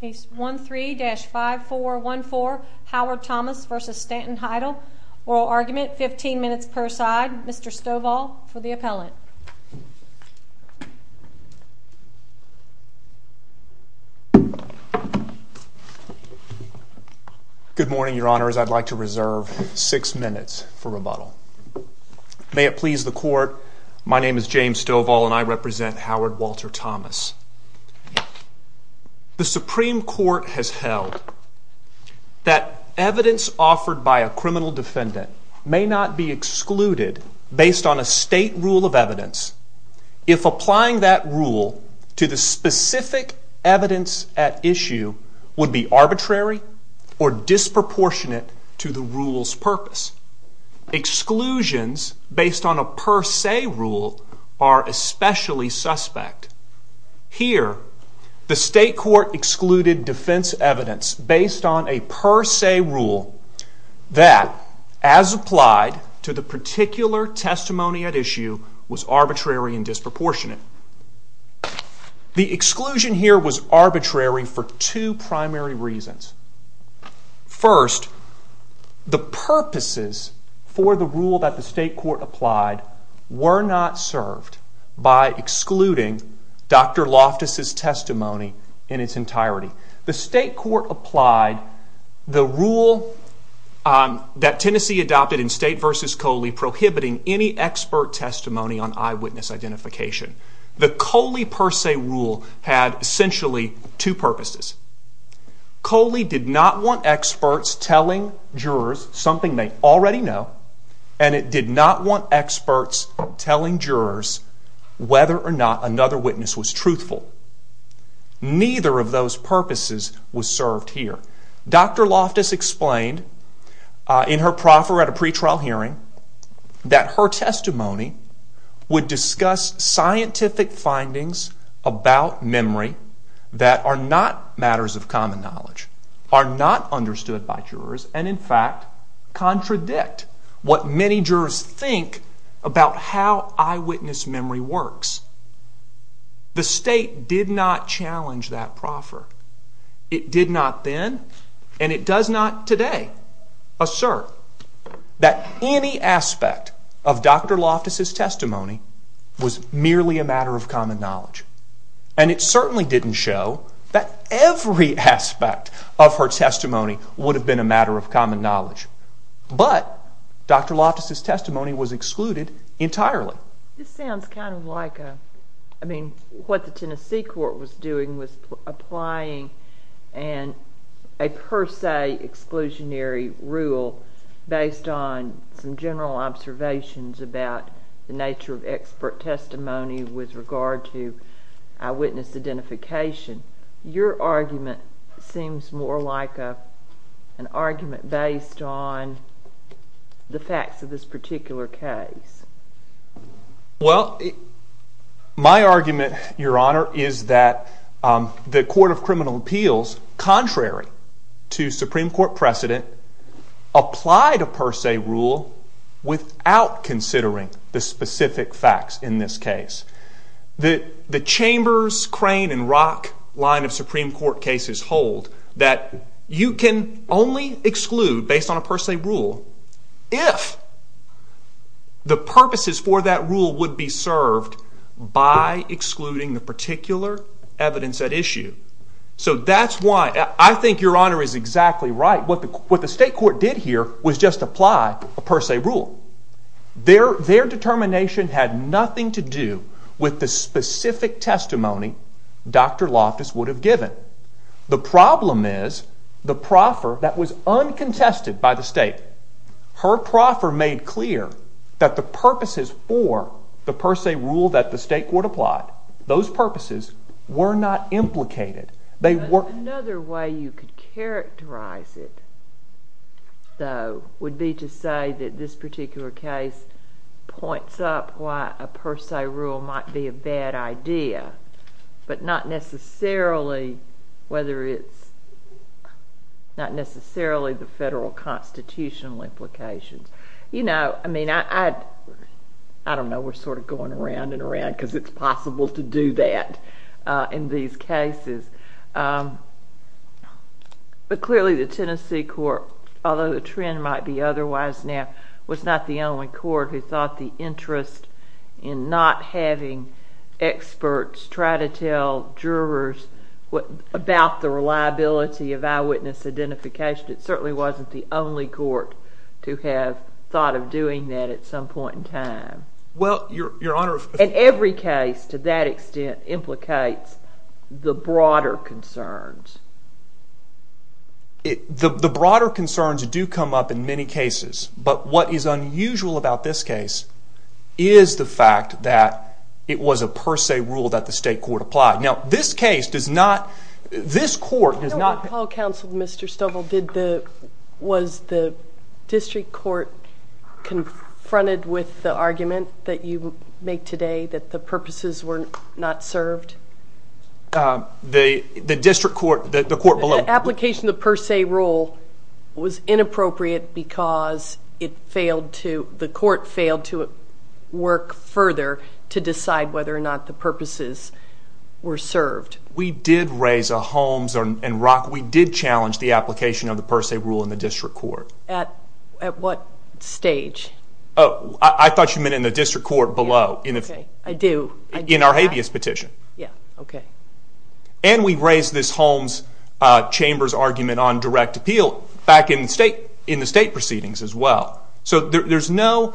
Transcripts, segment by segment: Case 13-5414 Howard Thomas v. Stanton Heidle Oral argument, 15 minutes per side. Mr. Stovall for the appellant. Good morning, your honors. I'd like to reserve 6 minutes for rebuttal. May it please the court, my name is James Stovall and I represent Howard Walter Thomas. The Supreme Court has held that evidence offered by a criminal defendant may not be excluded based on a state rule of evidence if applying that rule to the specific evidence at issue would be arbitrary or disproportionate to the rule's purpose. Exclusions based on a per se rule are especially suspect. Here, the state court excluded defense evidence based on a per se rule that, as applied to the particular testimony at issue, was arbitrary and disproportionate. The exclusion here was arbitrary for two primary reasons. First, the purposes for the rule that the state court applied were not served by excluding Dr. Loftus' testimony in its entirety. The state court applied the rule that Tennessee adopted in State v. Coley prohibiting any expert testimony on eyewitness identification. The Coley per se rule had essentially two purposes. Coley did not want experts telling jurors something they already know and it did not want experts telling jurors whether or not another witness was truthful. Neither of those purposes was served here. Dr. Loftus explained in her proffer at a pretrial hearing that her testimony would discuss scientific findings about memory that are not matters of common knowledge, are not understood by jurors, and in fact contradict what many jurors think about how eyewitness memory works. The state did not challenge that proffer. It did not then, and it does not today, assert that any aspect of Dr. Loftus' testimony was merely a matter of common knowledge. And it certainly didn't show that every aspect of her testimony would have been a matter of common knowledge. But Dr. Loftus' testimony was excluded entirely. This sounds kind of like a, I mean, what the Tennessee court was doing was applying a per se exclusionary rule based on some general observations about the nature of expert testimony with regard to eyewitness identification. Your argument seems more like an argument based on the facts of this particular case. Well, my argument, Your Honor, is that the Court of Criminal Appeals, contrary to Supreme Court precedent, applied a per se rule without considering the specific facts in this case. The Chambers, Crane, and Rock line of Supreme Court cases hold that you can only exclude based on a per se rule if the purposes for that rule would be served by excluding the particular evidence at issue. So that's why I think Your Honor is exactly right. What the state court did here was just apply a per se rule. Their determination had nothing to do with the specific testimony Dr. Loftus would have given. The problem is the proffer that was uncontested by the state, her proffer made clear that the purposes for the per se rule that the state court applied, those purposes were not implicated. Another way you could characterize it, though, would be to say that this particular case points up why a per se rule might be a bad idea, but not necessarily the federal constitutional implications. You know, I don't know, we're sort of going around and around because it's possible to do that in these cases. But clearly the Tennessee court, although the trend might be otherwise now, was not the only court who thought the interest in not having experts try to tell jurors about the reliability of eyewitness identification, it certainly wasn't the only court to have thought of doing that at some point in time. Well, Your Honor... And every case to that extent implicates the broader concerns. The broader concerns do come up in many cases, but what is unusual about this case is the fact that it was a per se rule that the state court applied. Now this case does not, this court does not... When Paul counseled Mr. Stovall, was the district court confronted with the argument that you make today that the purposes were not served? The district court, the court below... The application of the per se rule was inappropriate because it failed to, the court failed to work further to decide whether or not the purposes were served. We did raise a Holmes and Rock, we did challenge the application of the per se rule in the district court. At what stage? I thought you meant in the district court below. I do. In our habeas petition. Yeah, okay. And we raised this Holmes Chamber's argument on direct appeal back in the state proceedings as well. So there's no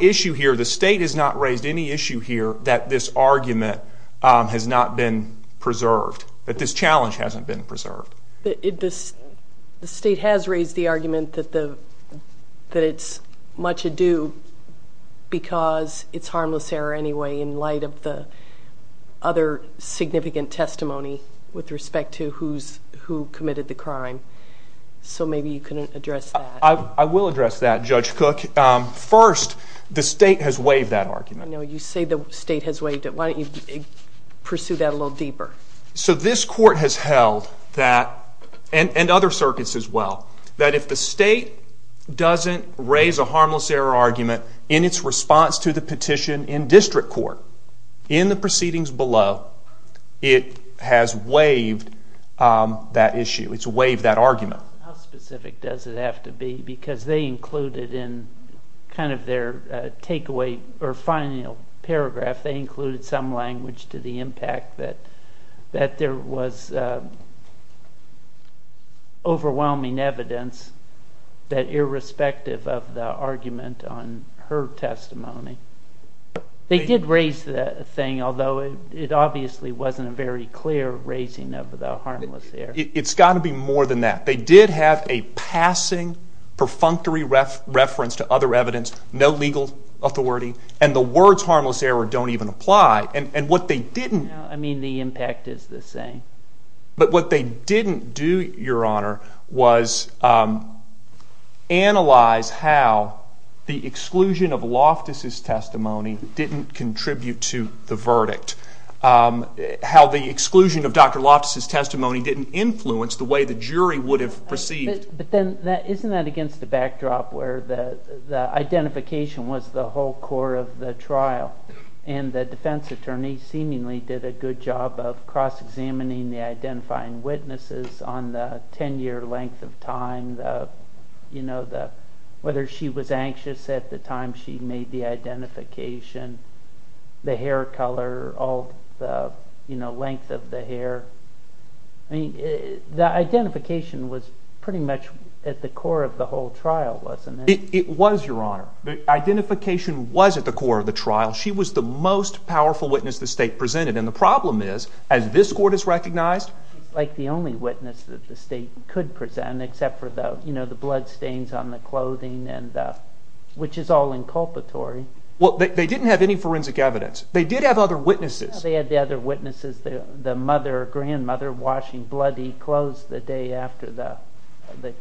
issue here, the state has not raised any issue here that this argument has not been preserved, that this challenge hasn't been preserved. The state has raised the argument that it's much ado because it's harmless error anyway in light of the other significant testimony with respect to who committed the crime. So maybe you can address that. I will address that, Judge Cook. First, the state has waived that argument. No, you say the state has waived it. Why don't you pursue that a little deeper? So this court has held that, and other circuits as well, that if the state doesn't raise a harmless error argument in its response to the petition in district court in the proceedings below, it has waived that issue, it's waived that argument. How specific does it have to be? Because they included in kind of their final paragraph, they included some language to the impact that there was overwhelming evidence that irrespective of the argument on her testimony, they did raise that thing, although it obviously wasn't a very clear raising of the harmless error. It's got to be more than that. They did have a passing perfunctory reference to other evidence, no legal authority, and the words harmless error don't even apply. I mean, the impact is the same. But what they didn't do, Your Honor, was analyze how the exclusion of Loftus' testimony didn't contribute to the verdict, how the exclusion of Dr. Loftus' testimony didn't influence the way the jury would have perceived. But isn't that against the backdrop where the identification was the whole core of the trial, and the defense attorney seemingly did a good job of cross-examining the identifying witnesses on the 10-year length of time, whether she was anxious at the time she made the identification, the hair color, the length of the hair. The identification was pretty much at the core of the whole trial, wasn't it? It was, Your Honor. The identification was at the core of the trial. She was the most powerful witness the state presented, and the problem is, as this court has recognized... She's like the only witness that the state could present, except for the bloodstains on the clothing, which is all inculpatory. Well, they didn't have any forensic evidence. They did have other witnesses. They had the other witnesses, the grandmother washing bloody clothes the day after the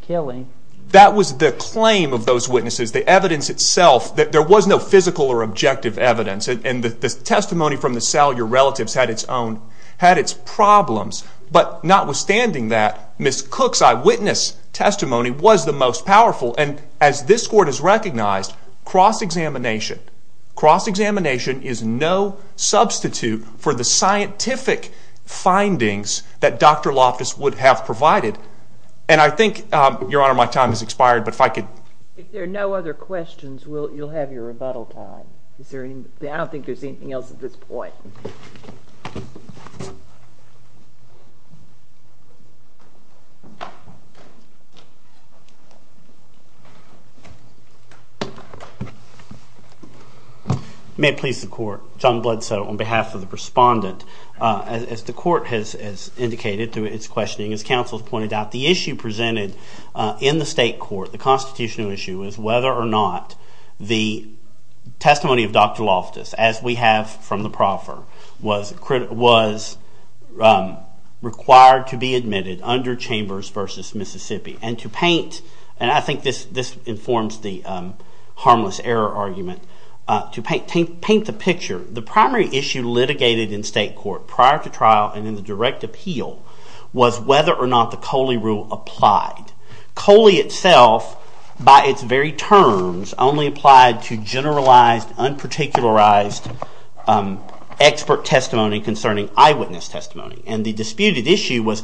killing. That was the claim of those witnesses, the evidence itself. There was no physical or objective evidence, and the testimony from the Salyer relatives had its problems. But notwithstanding that, Ms. Cook's eyewitness testimony was the most powerful, and as this court has recognized, cross-examination. Cross-examination is no substitute for the scientific findings that Dr. Loftus would have provided. And I think, Your Honor, my time has expired, but if I could... If there are no other questions, you'll have your rebuttal time. I don't think there's anything else at this point. May it please the court. John Bloodsoe on behalf of the respondent. As the court has indicated through its questioning, as counsel has pointed out, the issue presented in the state court, the constitutional issue, is whether or not the testimony of Dr. Loftus, as we have from the proffer, And I think this informs the harmless error argument. To paint the picture, the primary issue litigated in state court prior to trial and in the direct appeal was whether or not the Coley rule applied. Coley itself, by its very terms, only applied to generalized, unparticularized expert testimony concerning eyewitness testimony. And the disputed issue was,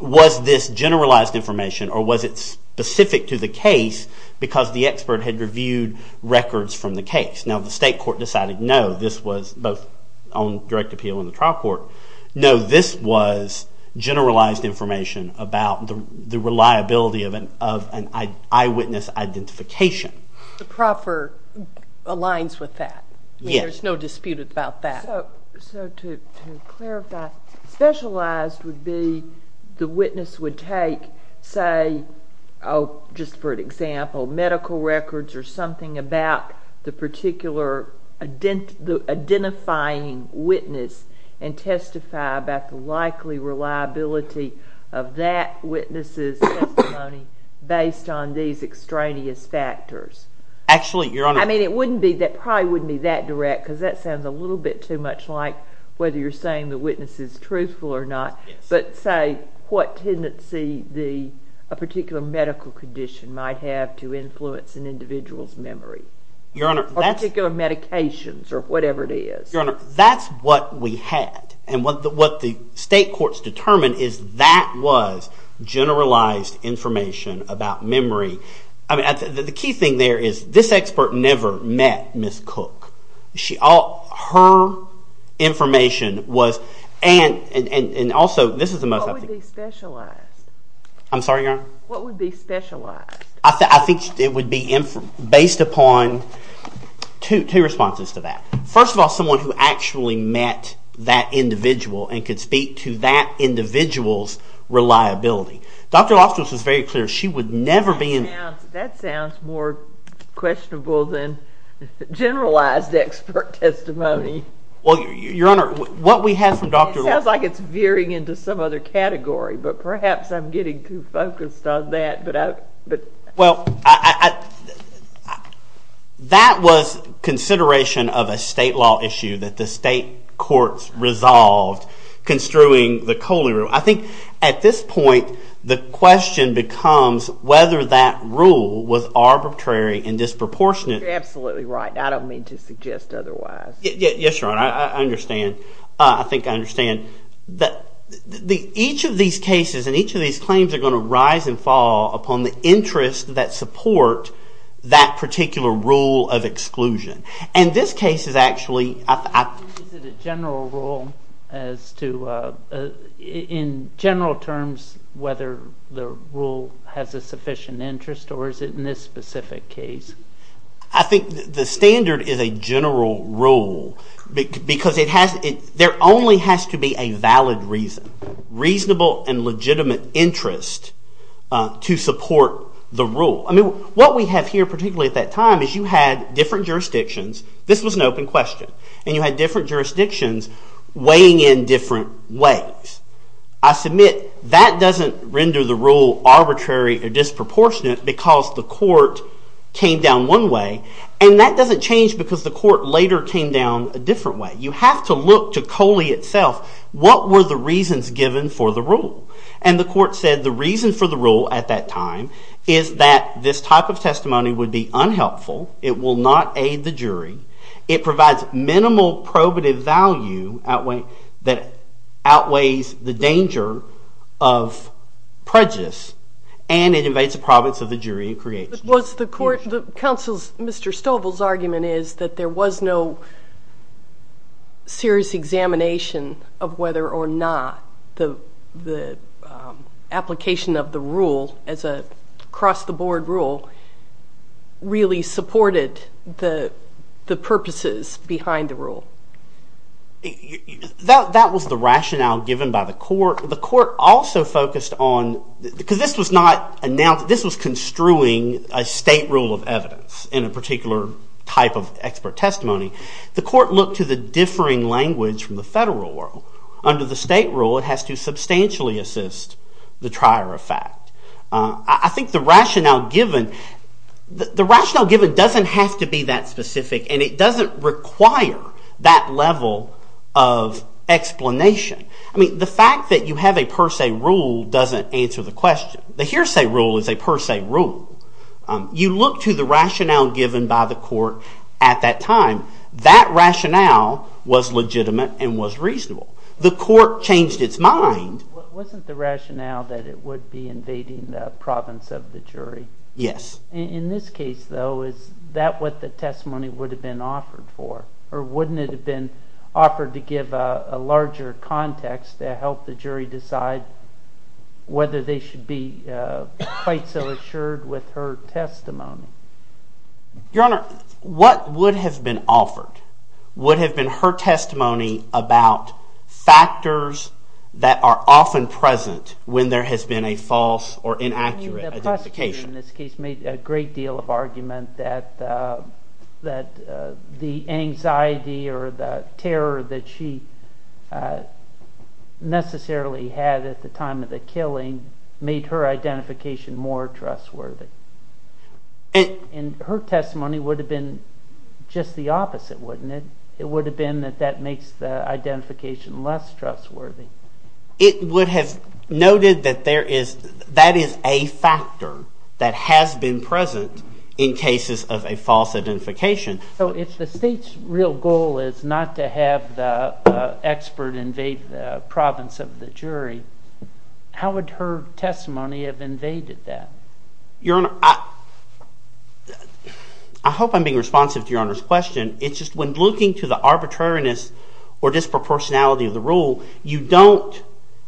was this generalized information or was it specific to the case because the expert had reviewed records from the case. Now the state court decided no, this was both on direct appeal and the trial court. No, this was generalized information about the reliability of an eyewitness identification. The proffer aligns with that. Yes. There's no dispute about that. So to clarify, specialized would be the witness would take, say, just for an example, medical records or something about the particular identifying witness and testify about the likely reliability of that witness's testimony based on these extraneous factors. Actually, Your Honor. I mean it wouldn't be, it probably wouldn't be that direct because that sounds a little bit too much like whether you're saying the witness is truthful or not. But say what tendency a particular medical condition might have to influence an individual's memory. Your Honor. Or particular medications or whatever it is. Your Honor, that's what we had. And what the state courts determined is that was generalized information about memory. The key thing there is this expert never met Ms. Cook. Her information was, and also this is the most... What would be specialized? I'm sorry, Your Honor. What would be specialized? I think it would be based upon two responses to that. First of all, someone who actually met that individual and could speak to that individual's reliability. Dr. Loftus was very clear. She would never be in... That sounds more questionable than generalized expert testimony. Well, Your Honor, what we have from Dr. Loftus... It sounds like it's veering into some other category, but perhaps I'm getting too focused on that. Well, that was consideration of a state law issue that the state courts resolved construing the Coley Rule. I think at this point the question becomes whether that rule was arbitrary and disproportionate. You're absolutely right. I don't mean to suggest otherwise. Yes, Your Honor, I understand. I think I understand. Each of these cases and each of these claims are going to rise and fall upon the interests that support that particular rule of exclusion. And this case is actually... Is it a general rule as to, in general terms, whether the rule has a sufficient interest or is it in this specific case? I think the standard is a general rule because there only has to be a valid reason, reasonable and legitimate interest to support the rule. What we have here, particularly at that time, is you had different jurisdictions. This was an open question. And you had different jurisdictions weighing in different ways. I submit that doesn't render the rule arbitrary or disproportionate because the court came down one way. And that doesn't change because the court later came down a different way. You have to look to Coley itself. What were the reasons given for the rule? And the court said the reason for the rule at that time is that this type of testimony would be unhelpful. It will not aid the jury. It provides minimal probative value that outweighs the danger of prejudice. And it invades the province of the jury in creation. Was the court... Mr. Stovall's argument is that there was no serious examination of whether or not the application of the rule as a cross-the-board rule really supported the purposes behind the rule. That was the rationale given by the court. The court also focused on... Because this was not announced... This was construing a state rule of evidence in a particular type of expert testimony. The court looked to the differing language from the federal world. Under the state rule, it has to substantially assist the trier of fact. I think the rationale given... The rationale given doesn't have to be that specific and it doesn't require that level of explanation. The fact that you have a per se rule doesn't answer the question. The hearsay rule is a per se rule. You look to the rationale given by the court at that time. That rationale was legitimate and was reasonable. The court changed its mind... Wasn't the rationale that it would be invading the province of the jury? Yes. In this case, though, is that what the testimony would have been offered for? Or wouldn't it have been offered to give a larger context to help the jury decide whether they should be quite so assured with her testimony? Your Honor, what would have been offered would have been her testimony about factors that are often present when there has been a false or inaccurate identification. The prosecutor in this case made a great deal of argument that the anxiety or the terror that she necessarily had at the time of the killing made her identification more trustworthy. Her testimony would have been just the opposite, wouldn't it? It would have been that that makes the identification less trustworthy. It would have noted that that is a factor that has been present in cases of a false identification. So if the state's real goal is not to have the expert invade the province of the jury, how would her testimony have invaded that? Your Honor, I hope I'm being responsive to Your Honor's question. It's just when looking to the arbitrariness or disproportionality of the rule, you don't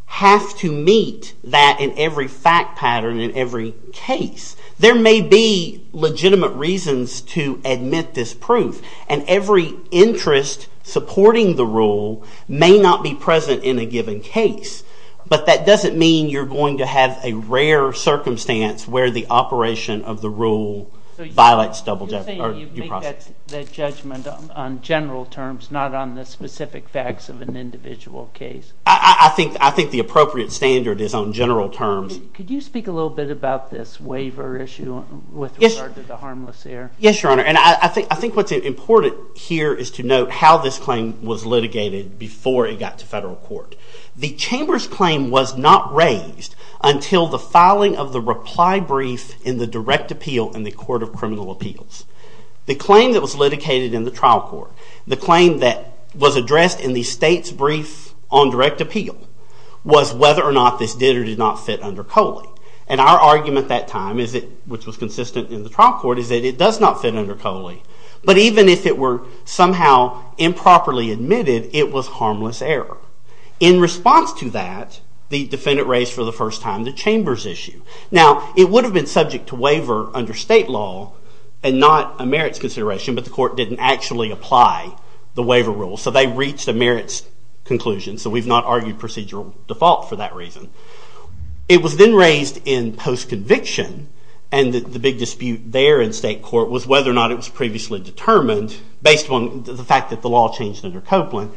have to meet that in every fact pattern in every case. There may be legitimate reasons to admit this proof, and every interest supporting the rule may not be present in a given case. But that doesn't mean you're going to have a rare circumstance where the operation of the rule violates your process. So you're saying you make that judgment on general terms, not on the specific facts of an individual case? I think the appropriate standard is on general terms. Could you speak a little bit about this waiver issue with regard to the harmless error? Yes, Your Honor, and I think what's important here is to note how this claim was litigated before it got to federal court. The chamber's claim was not raised until the filing of the reply brief in the direct appeal in the Court of Criminal Appeals. The claim that was litigated in the trial court, the claim that was addressed in the state's brief on direct appeal, was whether or not this did or did not fit under COLE. And our argument at that time, which was consistent in the trial court, is that it does not fit under COLE. But even if it were somehow improperly admitted, it was harmless error. In response to that, the defendant raised for the first time the chamber's issue. Now, it would have been subject to waiver under state law and not a merits consideration, but the court didn't actually apply the waiver rule. So they reached a merits conclusion. So we've not argued procedural default for that reason. It was then raised in post-conviction, and the big dispute there in state court was whether or not it was previously determined, based on the fact that the law changed under Copeland,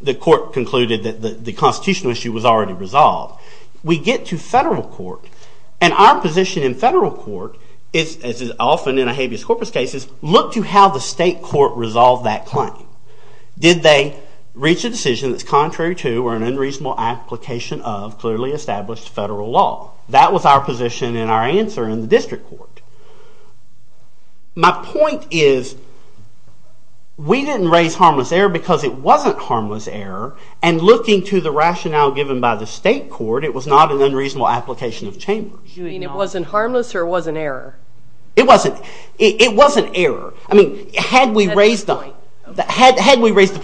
the court concluded that the constitutional issue was already resolved. We get to federal court, and our position in federal court is, as is often in a habeas corpus case, is look to how the state court resolved that claim. Did they reach a decision that's contrary to or an unreasonable application of clearly established federal law? That was our position and our answer in the district court. My point is, we didn't raise harmless error because it wasn't harmless error, and looking to the rationale given by the state court, it was not an unreasonable application of chambers. You mean it wasn't harmless or it wasn't error? It wasn't. It wasn't error. I mean, had we raised the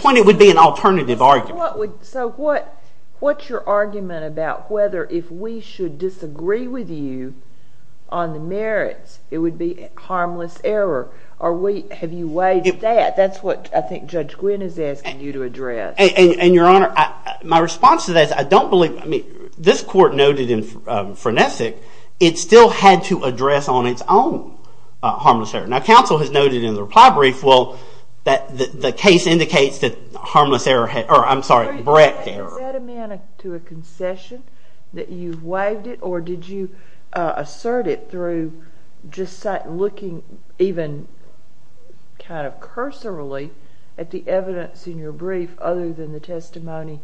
point, it would be an alternative argument. So what's your argument about whether if we should disagree with you on the merits, it would be harmless error? Have you weighed that? That's what I think Judge Gwynne is asking you to address. And, Your Honor, my response to that is I don't believe... I mean, this court noted in Frenesic it still had to address on its own harmless error. Now, counsel has noted in the reply brief, well, that the case indicates that harmless error had... I'm sorry, correct error. Is that a man to a concession, that you've weighed it, or did you assert it through just looking even kind of cursorily at the evidence in your brief, other than the testimony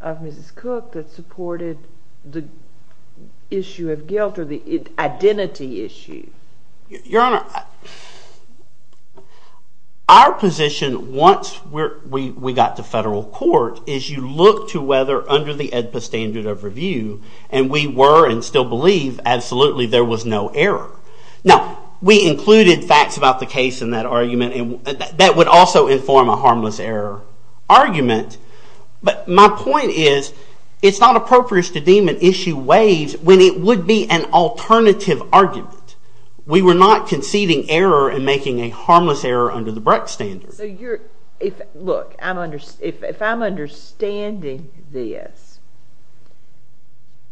of Mrs. Cook that supported the issue of guilt or the identity issue? Your Honor, our position, once we got to federal court, is you look to whether under the AEDPA standard of review, and we were and still believe absolutely there was no error. Now, we included facts about the case in that argument, and that would also inform a harmless error argument, but my point is it's not appropriate to deem an issue waived when it would be an alternative argument. We were not conceding error and making a harmless error under the Brecht standard. Look, if I'm understanding this,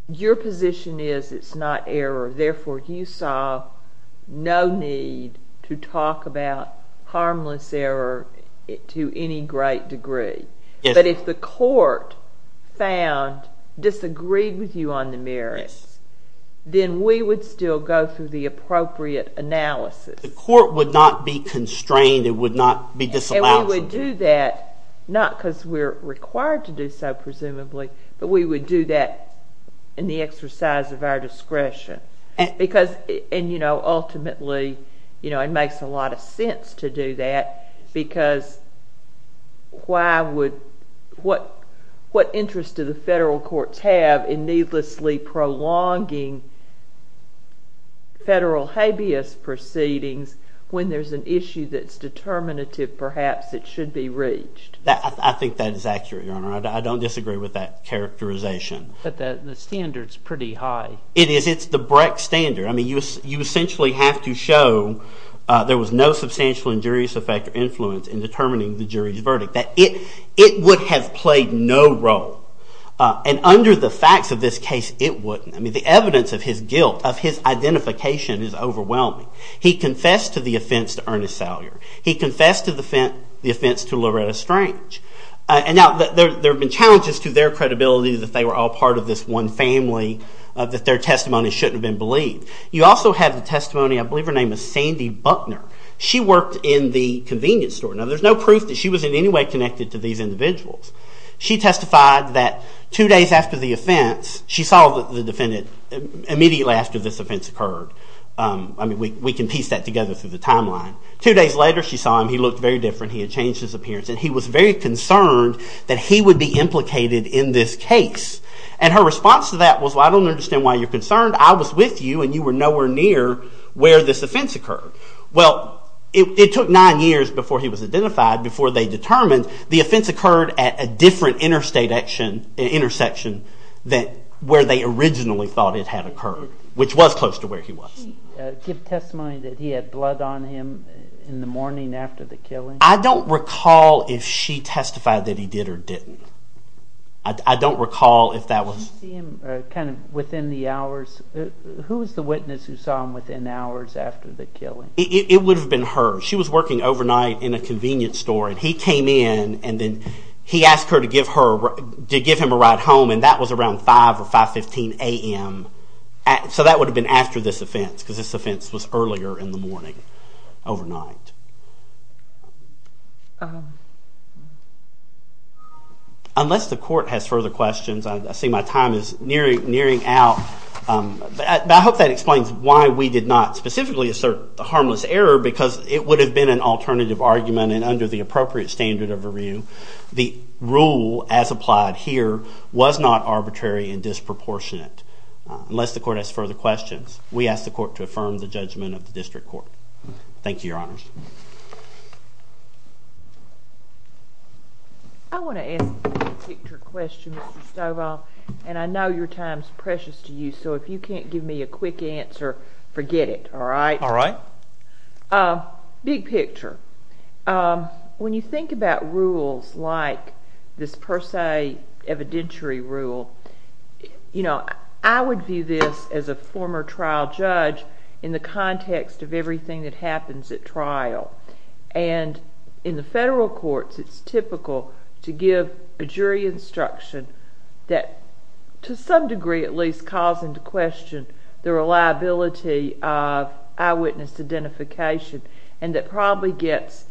your position is it's not error, therefore you saw no need to talk about harmless error to any great degree. But if the court found, disagreed with you on the merits, then we would still go through the appropriate analysis. The court would not be constrained. It would not be disallowed. And we would do that, not because we're required to do so, presumably, but we would do that in the exercise of our discretion. Ultimately, it makes a lot of sense to do that because what interest do the federal courts have in needlessly prolonging federal habeas proceedings when there's an issue that's determinative perhaps it should be reached? I think that is accurate, Your Honor. I don't disagree with that characterization. But the standard's pretty high. It is. It's the Brecht standard. You essentially have to show in determining the jury's verdict. It would have played no role. And under the facts of this case, it wouldn't. The evidence of his guilt, of his identification is overwhelming. He confessed to the offense to Ernest Salyer. He confessed to the offense to Loretta Strange. There have been challenges to their credibility that they were all part of this one family that their testimony shouldn't have been believed. You also have the testimony of Sandy Buckner. She worked in the convenience store. There's no proof that she was in any way connected to these individuals. She testified that two days after the offense, she saw the defendant immediately after this offense occurred. We can piece that together through the timeline. Two days later she saw him. He looked very different. He had changed his appearance. And he was very concerned that he would be implicated in this case. And her response to that was, well, I don't understand why you're concerned. I was with you and you were nowhere near where this offense occurred. Well, it took nine years before he was identified, before they determined the offense occurred at a different intersection than where they originally thought it had occurred, which was close to where he was. Did she give testimony that he had blood on him in the morning after the killing? I don't recall if she testified that he did or didn't. I don't recall if that was... Who was the witness who saw him within hours after the killing? It would have been her. She was working overnight in a convenience store and he came in and then he asked her to give him a ride home and that was around 5 or 5.15 a.m. So that would have been after this offense because this offense was earlier in the morning, overnight. Unless the court has further questions, I see my time is nearing out, but I hope that explains why we did not specifically assert the harmless error because it would have been an alternative argument and under the appropriate standard of review, the rule as applied here was not arbitrary and disproportionate. Unless the court has further questions, we ask the court to affirm the judgment of the district court. Thank you, Your Honors. I want to ask a big picture question, Mr. Stovall, and I know your time is precious to you, so if you can't give me a quick answer, forget it, alright? Alright. Big picture. When you think about rules like this per se evidentiary rule, I would view this as a former trial judge in the context of everything that happens at trial. In the federal courts, it's typical to give a jury instruction that, to some degree at least, calls into question the reliability of eyewitness identification and that probably gets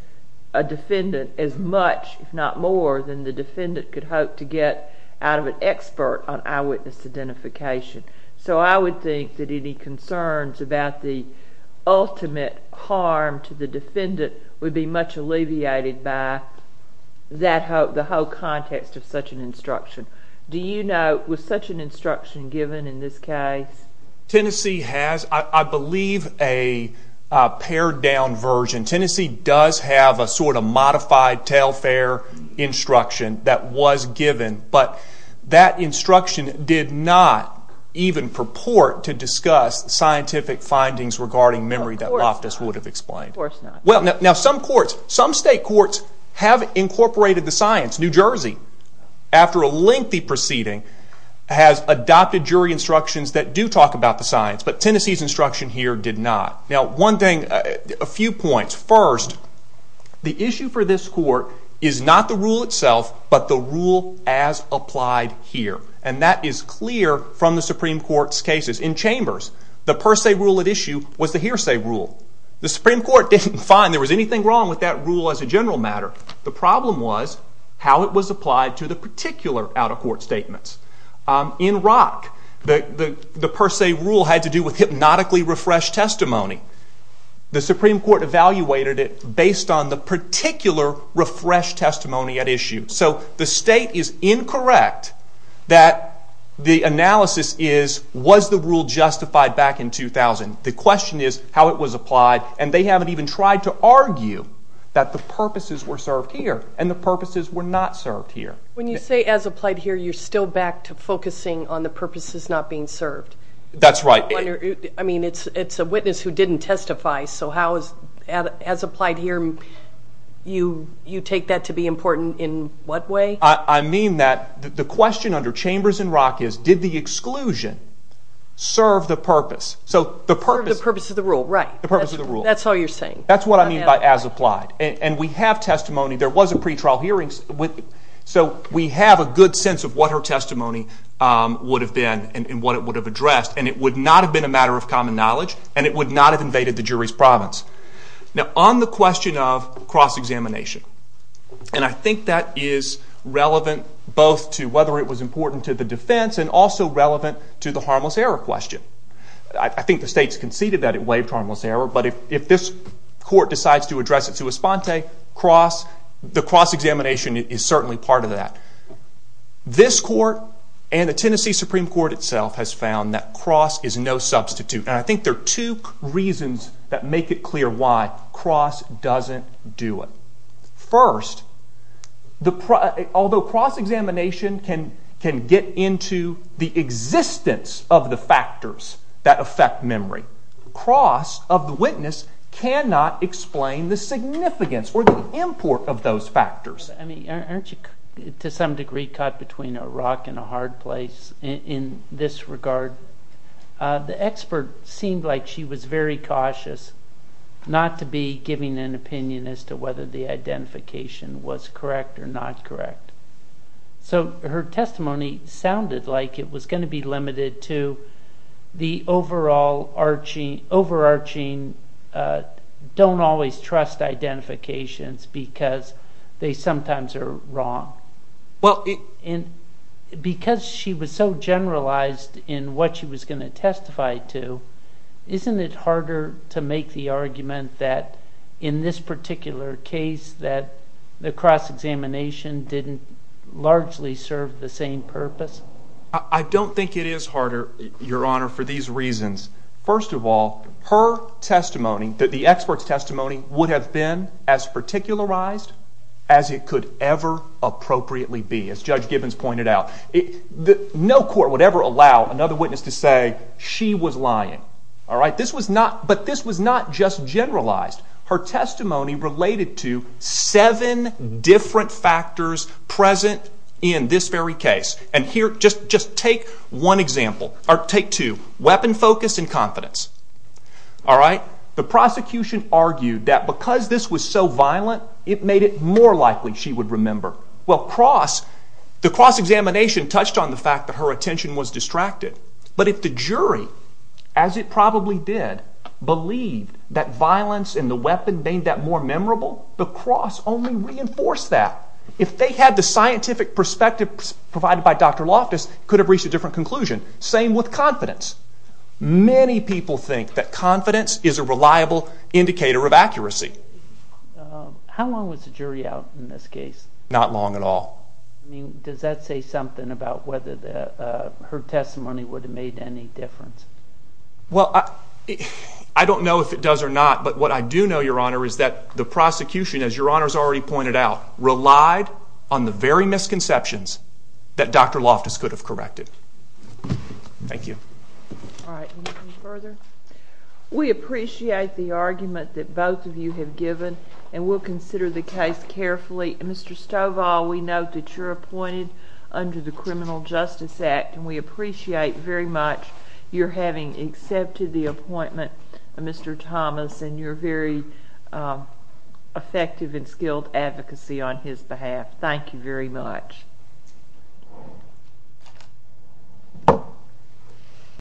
a defendant as much, if not more, than the defendant could hope to get out of an expert on eyewitness identification. So I would think that any concerns about the ultimate harm to the defendant would be much alleviated by the whole context of such an instruction. Do you know, was such an instruction given in this case? Tennessee has, I believe, a pared down version. Tennessee does have a sort of modified TAIL FAIR instruction that was given, but that instruction did not even purport to discuss scientific findings regarding memory that Loftus would have explained. Some state courts have incorporated the science. New Jersey, after a lengthy proceeding, has adopted jury instructions that do talk about the science, but Tennessee's instruction here did not. A few points. First, the issue for this court is not the rule itself, but the rule as applied here. And that is clear from the Supreme Court's cases. In Chambers, the per se rule at issue was the hearsay rule. The Supreme Court didn't find there was anything wrong with that rule as a general matter. The problem was how it was applied to the particular out-of-court statements. In Rock, the per se rule had to do with hypnotically refreshed testimony. The Supreme Court evaluated it based on the particular refreshed testimony at issue. So the state is incorrect that the analysis is was the rule justified back in 2000? The question is how it was applied, and they haven't even tried to argue that the purposes were served here and the purposes were not served here. When you say as applied here, you're still back to focusing on the purposes not being served. That's right. I mean, it's a witness who didn't testify, so as applied here, you take that to be important in what way? I mean that the question under Chambers and Rock is, did the exclusion serve the purpose? The purpose of the rule, right. That's all you're saying. That's what I mean by as applied. And we have testimony. There was a pretrial hearing so we have a good sense of what her testimony would have been and what it would have addressed. And it would not have been a matter of common knowledge and it would not have invaded the jury's province. Now on the question of cross-examination, and I think that is relevant both to whether it was important to the defense and also relevant to the harmless error question. I think the state's conceded that it waived harmless error but if this court decides to address it to Esponte the cross-examination is certainly part of that. This court and the Tennessee Supreme Court itself has found that cross is no substitute. And I think there are two reasons that make it clear why cross doesn't do it. First, although cross-examination can get into the existence of the factors that affect memory, cross of the witness cannot explain the significance or the import of those factors. To some degree caught between a rock and a hard place in this regard. The expert seemed like she was very cautious not to be giving an opinion as to whether the identification was correct or not correct. So her testimony sounded like it was going to be limited to the overall overarching don't always trust identifications because they sometimes are wrong. Because she was so generalized in what she was going to testify to isn't it harder to make the argument that in this particular case that the cross-examination didn't largely serve the same purpose? I don't think it is harder, your honor, for these reasons. First of all, her testimony that the expert's testimony would have been as particularized as it could ever appropriately be as Judge Gibbons pointed out. No court would ever allow another witness to say she was lying. But this was not just generalized. Her testimony related to seven different factors present in this very case. Take two, weapon focus and confidence. The prosecution argued that because this was so violent, it made it more likely she would remember. The cross-examination touched on the fact that her attention was distracted. But if the jury, as it probably did, believed that violence and the weapon made that more memorable, the cross only reinforced that. If they had the scientific perspective provided by Dr. Loftus, they could have reached a different conclusion. Same with confidence. Many people think that confidence is a reliable indicator of accuracy. How long was the jury out in this case? Not long at all. Does that say something about whether her testimony would have made any difference? I don't know if it does or not, but what I do know, your honor, is that the prosecution, as your honor has already pointed out, relied on the very misconceptions that Dr. Loftus could have corrected. Thank you. We appreciate the argument that both of you have given and we'll consider the case carefully. Mr. Stovall, we note that you're appointed under the Criminal Justice Act and we appreciate very much your having accepted the appointment of Mr. Thomas and your very effective and skilled advocacy on his behalf. Thank you very much.